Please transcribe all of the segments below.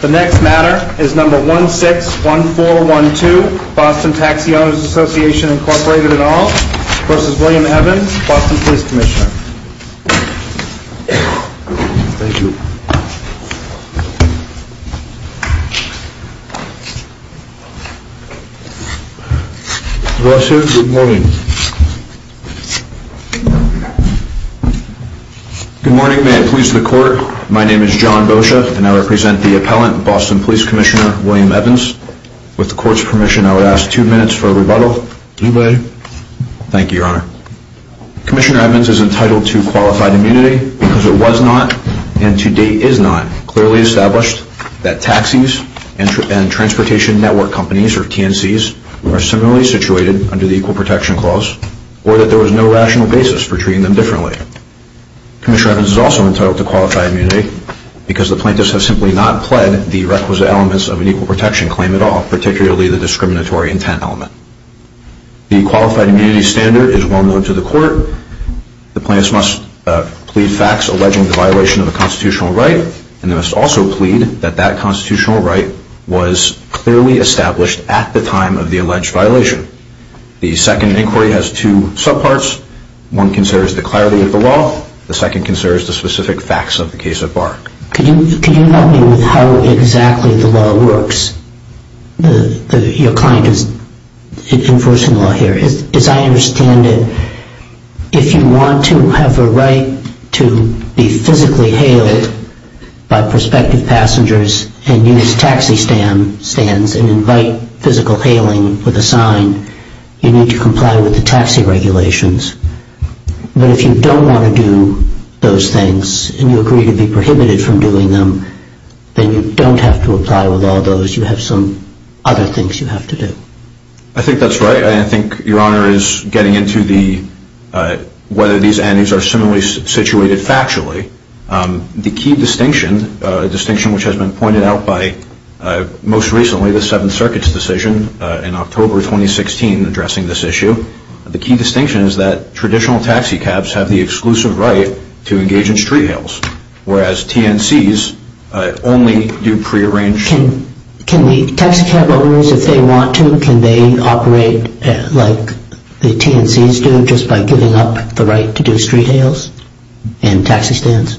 The next matter is number 161412 Boston Taxi Owners Association Incorporated et al v. William Evans, Boston Police Commissioner. Thank you. Good morning. May it please the court, my name is John Boccia and I represent the appellant, Boston Police Commissioner William Evans. With the court's permission, I would ask two minutes for a rebuttal. Thank you, your honor. Commissioner Evans is entitled to qualified immunity because it was not and to date is not clearly established that taxis and transportation network companies or TNCs are similarly situated under the Equal Protection Clause or that there was no rational basis for treating them differently. Commissioner Evans is also entitled to qualified immunity because the plaintiffs have simply not pled the requisite elements of an Equal Protection Claim at all, particularly the discriminatory intent element. The qualified immunity standard is well known to the court. The plaintiffs must plead facts alleging the violation of a constitutional right and they must also plead that that constitutional right was clearly established at the time of the alleged violation. The second inquiry has two subparts. One concerns the clarity of the law. The second concerns the specific facts of the case at bar. Could you help me with how exactly the law works? Your client is enforcing the law here. As I understand it, if you want to have a right to be physically hailed by prospective passengers and use taxi stands and invite physical hailing with a sign, you need to comply with the taxi regulations. But if you don't want to do those things and you agree to be prohibited from doing them, then you don't have to apply with all those. You have some other things you have to do. I think that's right. I think Your Honor is getting into whether these entities are similarly situated factually. The key distinction, a distinction which has been pointed out by most recently the Seventh Circuit's decision in October 2016 addressing this issue, the key distinction is that traditional taxi cabs have the exclusive right to engage in street hails, whereas TNCs only do prearranged... Can the taxi cab owners, if they want to, can they operate like the TNCs do just by giving up the right to do street hails and taxi stands?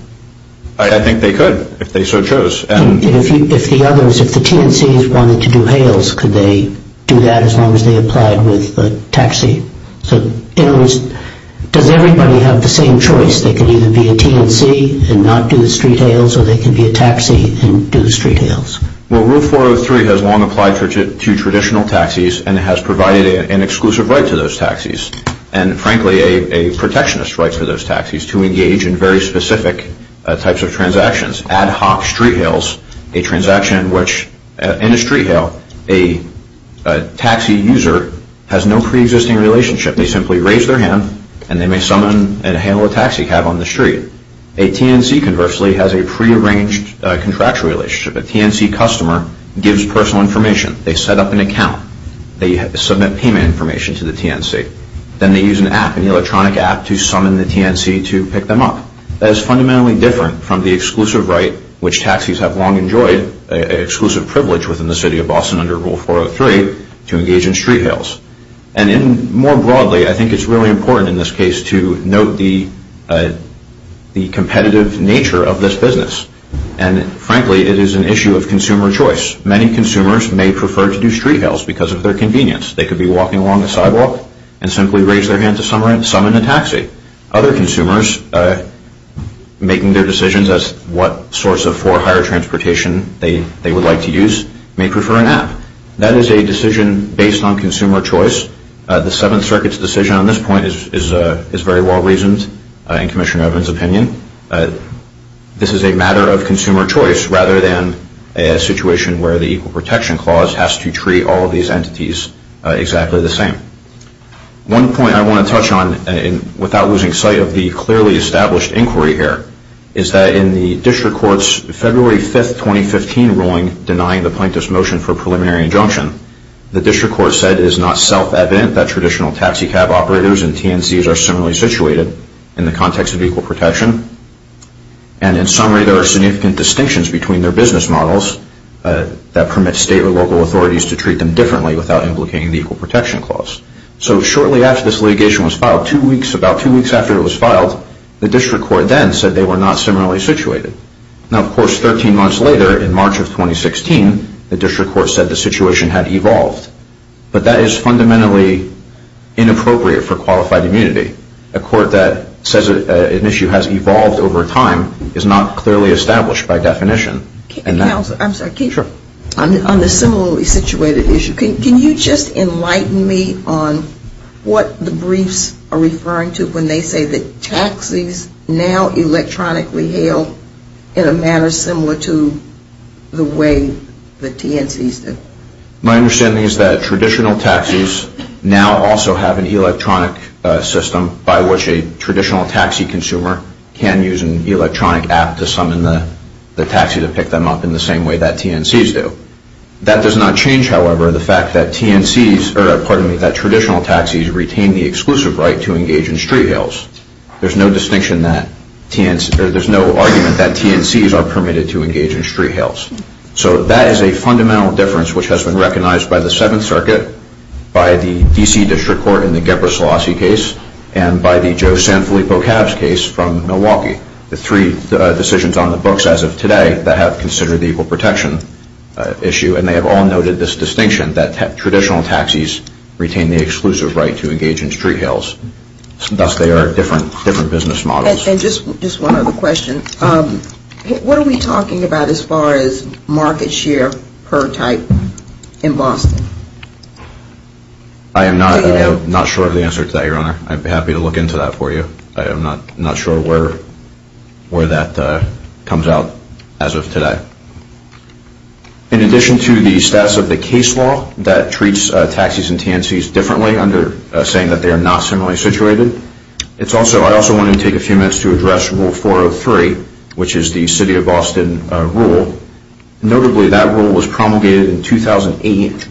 I think they could if they so chose. If the TNCs wanted to do hails, could they do that as long as they applied with a taxi? In other words, does everybody have the same choice? They can either be a TNC and not do the street hails or they can be a taxi and do the street hails. Rule 403 has long applied to traditional taxis and has provided an exclusive right to those taxis, and frankly a protectionist right for those taxis to engage in very specific types of transactions. One example is ad hoc street hails, a transaction in which in a street hail a taxi user has no preexisting relationship. They simply raise their hand and they may summon and hail a taxi cab on the street. A TNC conversely has a prearranged contractual relationship. A TNC customer gives personal information. They set up an account. They submit payment information to the TNC. Then they use an app, an electronic app, to summon the TNC to pick them up. That is fundamentally different from the exclusive right which taxis have long enjoyed, an exclusive privilege within the city of Boston under Rule 403, to engage in street hails. And more broadly, I think it's really important in this case to note the competitive nature of this business, and frankly it is an issue of consumer choice. Many consumers may prefer to do street hails because of their convenience. They could be walking along the sidewalk and simply raise their hand to summon a taxi. Other consumers making their decisions as to what source of for hire transportation they would like to use may prefer an app. That is a decision based on consumer choice. The Seventh Circuit's decision on this point is very well reasoned in Commissioner Evans' opinion. This is a matter of consumer choice rather than a situation where the Equal Protection Clause has to treat all of these entities exactly the same. One point I want to touch on, without losing sight of the clearly established inquiry here, is that in the District Court's February 5, 2015 ruling denying the plaintiff's motion for a preliminary injunction, the District Court said it is not self-evident that traditional taxicab operators and TNCs are similarly situated in the context of equal protection. And in summary, there are significant distinctions between their business models that permit state or local authorities to treat them differently without implicating the Equal Protection Clause. So shortly after this litigation was filed, about two weeks after it was filed, the District Court then said they were not similarly situated. Now, of course, 13 months later, in March of 2016, the District Court said the situation had evolved. But that is fundamentally inappropriate for qualified immunity. A court that says an issue has evolved over time is not clearly established by definition. Counsel, I'm sorry. Sure. On the similarly situated issue, can you just enlighten me on what the briefs are referring to when they say that taxis now electronically hail in a manner similar to the way the TNCs did? My understanding is that traditional taxis now also have an electronic system by which a traditional taxi consumer can use an electronic app to summon the taxi to pick them up in the same way that TNCs do. That does not change, however, the fact that traditional taxis retain the exclusive right to engage in street hails. There's no argument that TNCs are permitted to engage in street hails. So that is a fundamental difference which has been recognized by the Seventh Circuit, by the D.C. District Court in the Gebre Selassie case, and by the Joe Sanfilippo Cabs case from Milwaukee. The three decisions on the books as of today that have considered the equal protection issue, and they have all noted this distinction that traditional taxis retain the exclusive right to engage in street hails. Thus, they are different business models. And just one other question. What are we talking about as far as market share per type in Boston? I am not sure of the answer to that, Your Honor. I'd be happy to look into that for you. I am not sure where that comes out as of today. In addition to the status of the case law that treats taxis and TNCs differently under saying that they are not similarly situated, I also want to take a few minutes to address Rule 403, which is the City of Boston rule. Notably, that rule was promulgated in 2008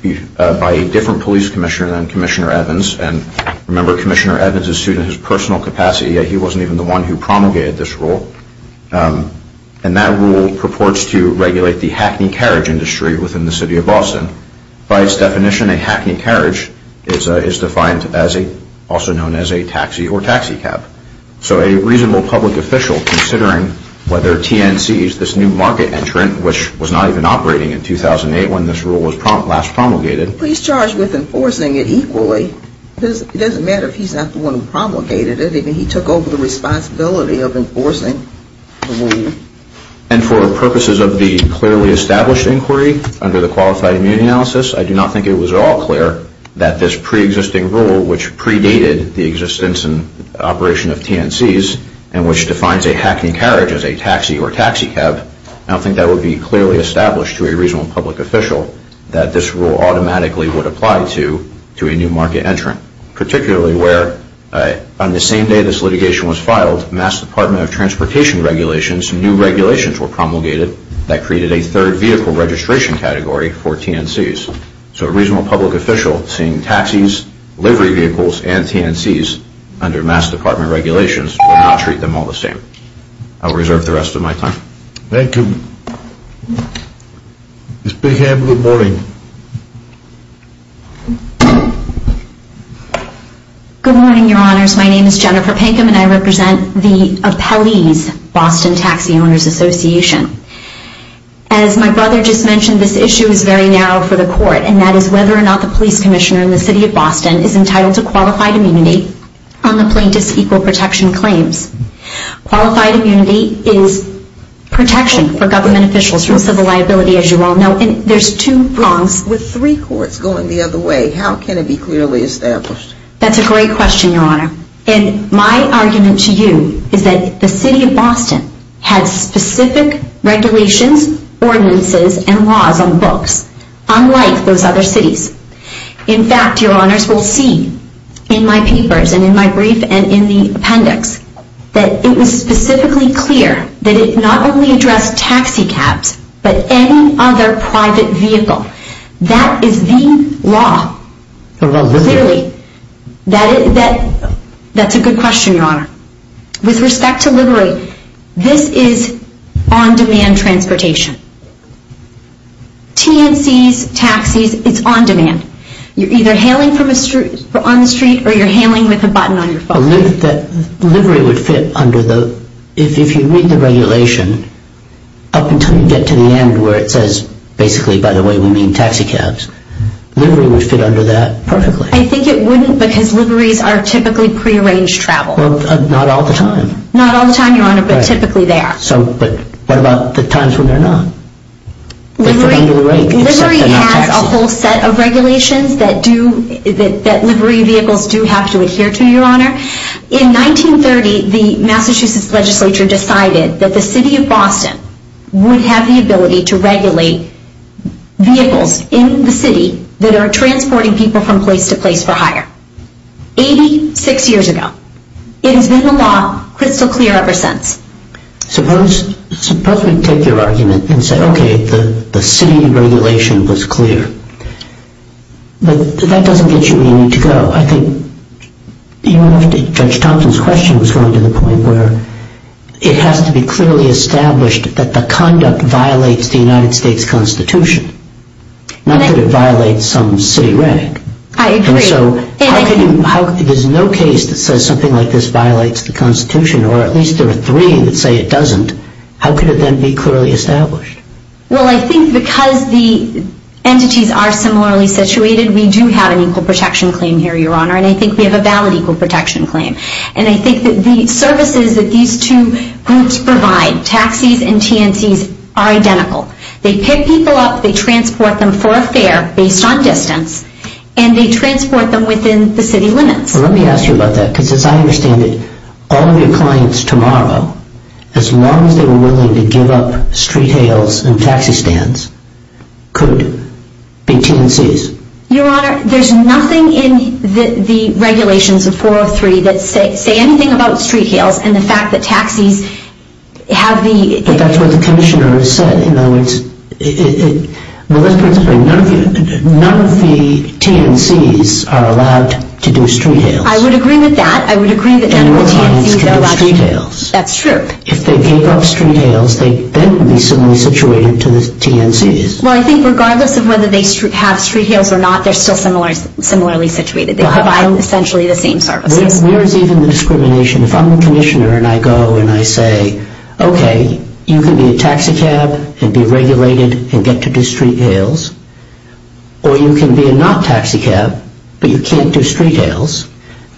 by a different police commissioner than Commissioner Evans. And remember, Commissioner Evans is sued in his personal capacity, yet he wasn't even the one who promulgated this rule. And that rule purports to regulate the hackney carriage industry within the City of Boston. By its definition, a hackney carriage is defined as a, also known as a taxi or taxi cab. So a reasonable public official, considering whether TNCs, this new market entrant, which was not even operating in 2008 when this rule was last promulgated. Police charged with enforcing it equally. It doesn't matter if he's not the one who promulgated it. He took over the responsibility of enforcing the rule. And for purposes of the clearly established inquiry, under the Qualified Immune Analysis, I do not think it was at all clear that this pre-existing rule, which predated the existence and operation of TNCs, and which defines a hackney carriage as a taxi or taxi cab, I don't think that would be clearly established to a reasonable public official, that this rule automatically would apply to a new market entrant. As a result, Mass. Department of Transportation regulations, new regulations were promulgated that created a third vehicle registration category for TNCs. So a reasonable public official seeing taxis, livery vehicles, and TNCs under Mass. Department regulations would not treat them all the same. I'll reserve the rest of my time. Ms. Bigham, good morning. Good morning, your honors. My name is Jennifer Pinkham, and I represent the Appellee's Boston Taxi Owners Association. As my brother just mentioned, this issue is very narrow for the court, and that is whether or not the police commissioner in the city of Boston is entitled to qualified immunity on the plaintiff's equal protection claims. Qualified immunity is protection for government officials from civil liability, as you all know. With three courts going the other way, how can it be clearly established? That's a great question, your honor. And my argument to you is that the city of Boston has specific regulations, ordinances, and laws on books, unlike those other cities. In fact, your honors, we'll see in my papers and in my brief and in the appendix that it was specifically clear that it not only addressed taxi cabs, but any other private vehicle. That is the law, clearly. That's a good question, your honor. With respect to livery, this is on-demand transportation. TNCs, taxis, it's on-demand. You're either hailing on the street or you're hailing with a button on your phone. The livery would fit under the, if you read the regulation, up until you get to the end where it says, basically, by the way, we mean taxi cabs, livery would fit under that perfectly. I think it wouldn't because liveries are typically pre-arranged travel. Not all the time. Not all the time, your honor, but typically they are. But what about the times when they're not? Livery has a whole set of regulations that livery vehicles do have to adhere to, your honor. In 1930, the Massachusetts legislature decided that the city of Boston would have the ability to regulate vehicles in the city that are transporting people from place to place for hire. 86 years ago. It has been the law crystal clear ever since. Suppose we take your argument and say, okay, the city regulation was clear. But that doesn't get you where you need to go. Well, I think Judge Thompson's question was going to the point where it has to be clearly established that the conduct violates the United States Constitution, not that it violates some city reg. I agree. There's no case that says something like this violates the Constitution, or at least there are three that say it doesn't. How could it then be clearly established? Well, I think because the entities are similarly situated, we do have an equal protection claim here, your honor, and I think we have a valid equal protection claim. And I think that the services that these two groups provide, taxis and TNCs, are identical. They pick people up, they transport them for a fare based on distance, and they transport them within the city limits. Let me ask you about that, because as I understand it, all of your clients tomorrow, as long as they were willing to give up street hails and taxi stands, could be TNCs. Your honor, there's nothing in the regulations of 403 that say anything about street hails and the fact that taxis have the... But that's what the Commissioner has said. In other words, none of the TNCs are allowed to do street hails. I would agree with that. I would agree that none of the TNCs are allowed to do street hails. That's true. If they gave up street hails, they then would be similarly situated to the TNCs. Well, I think regardless of whether they have street hails or not, they're still similarly situated. They provide essentially the same services. Where is even the discrimination? If I'm the Commissioner and I go and I say, okay, you can be a taxi cab and be regulated and get to do street hails, or you can be a not-taxi cab, but you can't do street hails,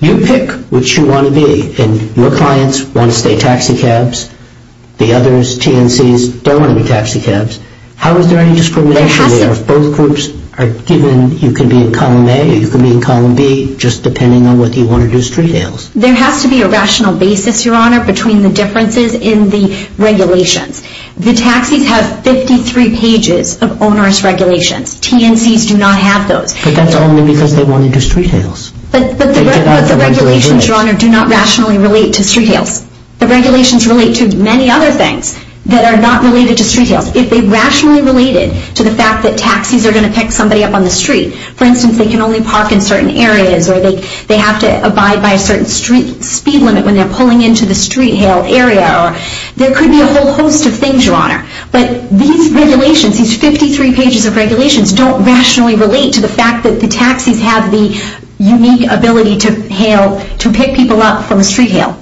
you pick which you want to be. And your clients want to stay taxi cabs. The others, TNCs, don't want to be taxi cabs. How is there any discrimination there if both groups are given you can be in column A or you can be in column B just depending on whether you want to do street hails? There has to be a rational basis, Your Honor, between the differences in the regulations. The taxis have 53 pages of onerous regulations. TNCs do not have those. But that's only because they want to do street hails. But the regulations, Your Honor, do not rationally relate to street hails. The regulations relate to many other things that are not related to street hails. If they rationally related to the fact that taxis are going to pick somebody up on the street, for instance, they can only park in certain areas, or they have to abide by a certain speed limit when they're pulling into the street hail area, there could be a whole host of things, Your Honor. But these regulations, these 53 pages of regulations, don't rationally relate to the fact that the taxis have the unique ability to hail, to pick people up from street hail.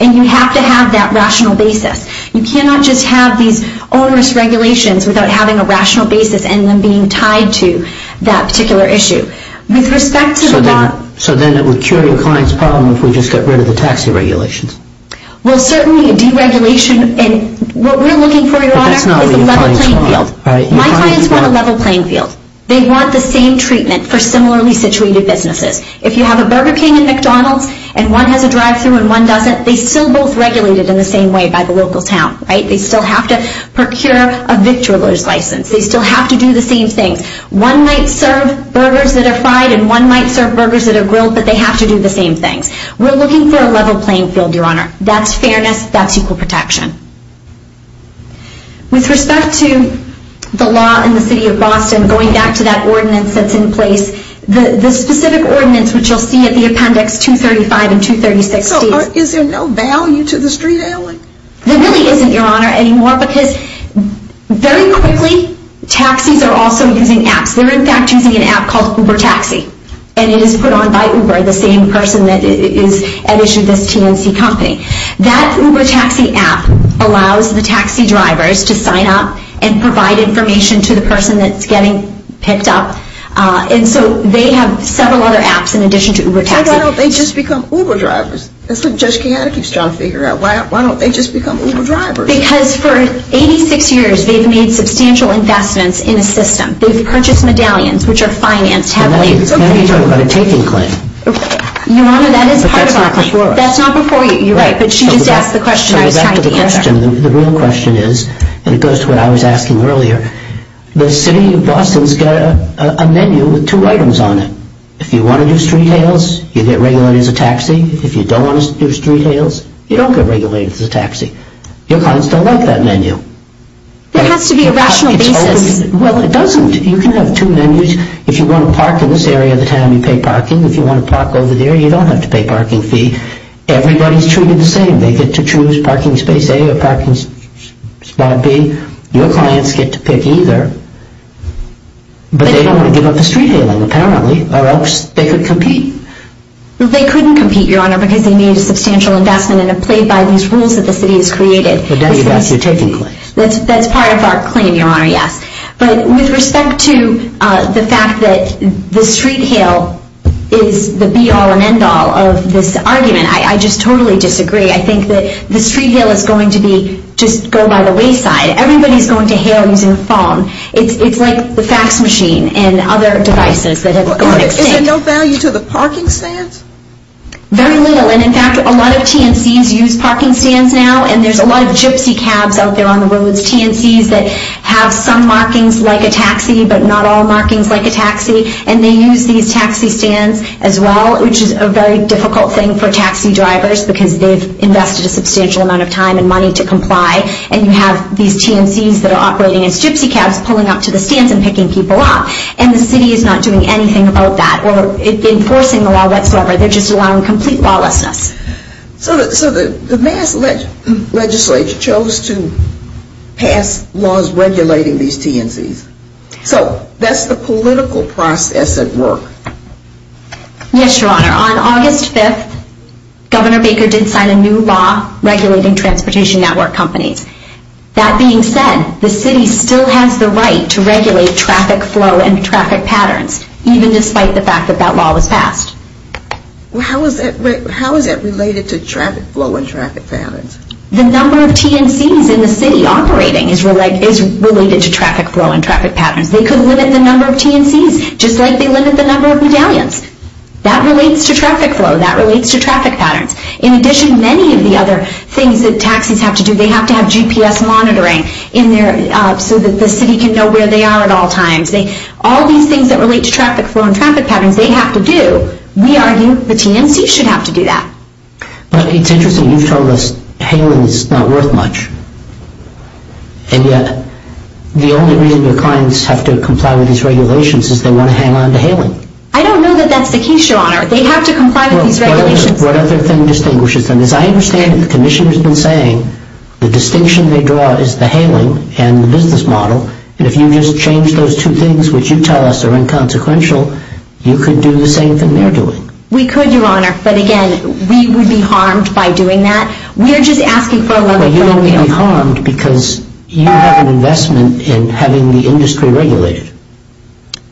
And you have to have that rational basis. You cannot just have these onerous regulations without having a rational basis and them being tied to that particular issue. With respect to the law... So then it would cure your client's problem if we just got rid of the taxi regulations? Well, certainly deregulation... What we're looking for, Your Honor, is a level playing field. My clients want a level playing field. They want the same treatment for similarly situated businesses. If you have a Burger King and McDonald's and one has a drive-thru and one doesn't, they're still both regulated in the same way by the local town, right? They still have to procure a victor's license. They still have to do the same things. One might serve burgers that are fried and one might serve burgers that are grilled, but they have to do the same things. We're looking for a level playing field, Your Honor. That's fairness. That's equal protection. With respect to the law in the city of Boston, going back to that ordinance that's in place, the specific ordinance which you'll see at the appendix 235 and 236 states... So is there no value to the street hailing? There really isn't, Your Honor, anymore because very quickly, taxis are also using apps. They're in fact using an app called Uber Taxi, and it is put on by Uber, the same person that issued this TNC company. That Uber Taxi app allows the taxi drivers to sign up and provide information to the person that's getting picked up. And so they have several other apps in addition to Uber Taxi. Why don't they just become Uber drivers? That's what Judge Kiyota keeps trying to figure out. Why don't they just become Uber drivers? Because for 86 years, they've made substantial investments in a system. They've purchased medallions which are financed heavily. Now you're talking about a taking claim. Your Honor, that is part of our claim. That's not before. You're right, but she just asked the question I was trying to answer. The real question is, and it goes to what I was asking earlier, the city of Boston's got a menu with two items on it. If you want to do street hails, you get regulated as a taxi. If you don't want to do street hails, you don't get regulated as a taxi. Your clients don't like that menu. There has to be a rational basis. Well, it doesn't. You can have two menus. If you want to park in this area of the town, you pay parking. If you want to park over there, you don't have to pay parking fee. Everybody's treated the same. They get to choose parking space A or parking spot B. Your clients get to pick either. But they don't want to give up the street hailing, apparently, or else they could compete. They couldn't compete, Your Honor, because they made a substantial investment and it played by these rules that the city has created. But that's your taking claim. That's part of our claim, Your Honor, yes. But with respect to the fact that the street hail is the be-all and end-all of this argument, I just totally disagree. I think that the street hail is going to be just go by the wayside. Everybody's going to hail using a phone. It's like the fax machine and other devices that have gone extinct. Is there no value to the parking stands? Very little. And, in fact, a lot of TNCs use parking stands now, and there's a lot of gypsy cabs out there on the roads, TNCs, that have some markings like a taxi but not all markings like a taxi, and they use these taxi stands as well, which is a very difficult thing for taxi drivers because they've invested a substantial amount of time and money to comply, and you have these TNCs that are operating as gypsy cabs pulling up to the stands and picking people up. And the city is not doing anything about that or enforcing the law whatsoever. They're just allowing complete lawlessness. So the mass legislature chose to pass laws regulating these TNCs. So that's the political process at work. Yes, Your Honor. On August 5th, Governor Baker did sign a new law regulating transportation network companies. That being said, the city still has the right to regulate traffic flow and traffic patterns, even despite the fact that that law was passed. How is that related to traffic flow and traffic patterns? The number of TNCs in the city operating is related to traffic flow and traffic patterns. They could limit the number of TNCs just like they limit the number of medallions. That relates to traffic flow. That relates to traffic patterns. In addition, many of the other things that taxis have to do, they have to have GPS monitoring so that the city can know where they are at all times. All these things that relate to traffic flow and traffic patterns, they have to do. We argue the TNCs should have to do that. But it's interesting. You've told us hailing is not worth much. And yet, the only reason your clients have to comply with these regulations is they want to hang on to hailing. I don't know that that's the case, Your Honor. They have to comply with these regulations. What other thing distinguishes them? As I understand it, the Commissioner has been saying the distinction they draw is the hailing and the business model. And if you just change those two things, which you tell us are inconsequential, you could do the same thing they're doing. We could, Your Honor. But again, we would be harmed by doing that. We're just asking for a level playing field. Well, you wouldn't be harmed because you have an investment in having the industry regulated.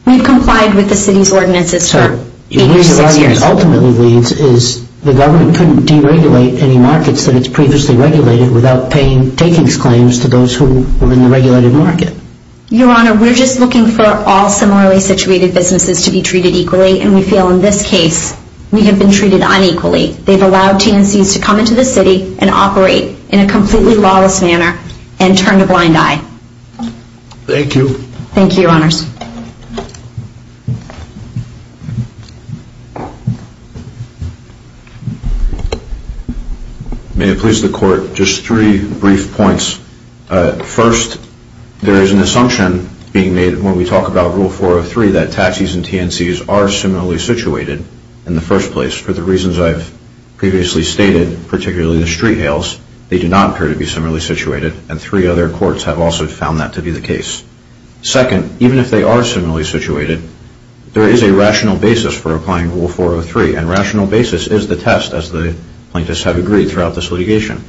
We've complied with the city's ordinances for eight or six years. The reason why this ultimately leads is the government couldn't deregulate any markets that it's previously regulated without paying takings claims to those who were in the regulated market. Your Honor, we're just looking for all similarly situated businesses to be treated equally, and we feel in this case we have been treated unequally. They've allowed TNCs to come into the city and operate in a completely lawless manner and turn a blind eye. Thank you. Thank you, Your Honors. May it please the Court, just three brief points. First, there is an assumption being made when we talk about Rule 403 that taxis and TNCs are similarly situated in the first place. For the reasons I've previously stated, particularly the street hails, they do not appear to be similarly situated, and three other courts have also found that to be the case. While they are similarly situated, there is a rational basis for applying Rule 403, and rational basis is the test, as the plaintiffs have agreed throughout this litigation.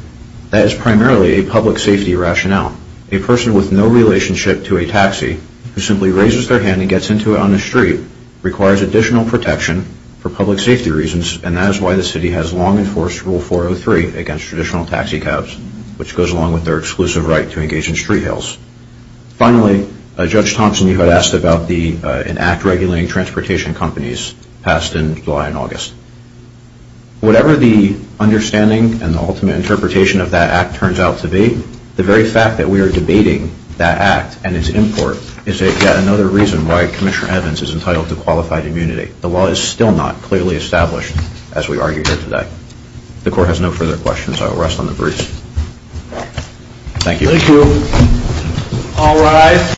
That is primarily a public safety rationale. A person with no relationship to a taxi who simply raises their hand and gets into it on the street requires additional protection for public safety reasons, and that is why the city has long enforced Rule 403 against traditional taxi cabs, which goes along with their exclusive right to engage in street hails. Finally, Judge Thompson, you had asked about an act regulating transportation companies passed in July and August. Whatever the understanding and the ultimate interpretation of that act turns out to be, the very fact that we are debating that act and its import is yet another reason why Commissioner Evans is entitled to qualified immunity. The law is still not clearly established as we argue here today. The Court has no further questions. I will rest on the briefs. Thank you. Thank you. All rise.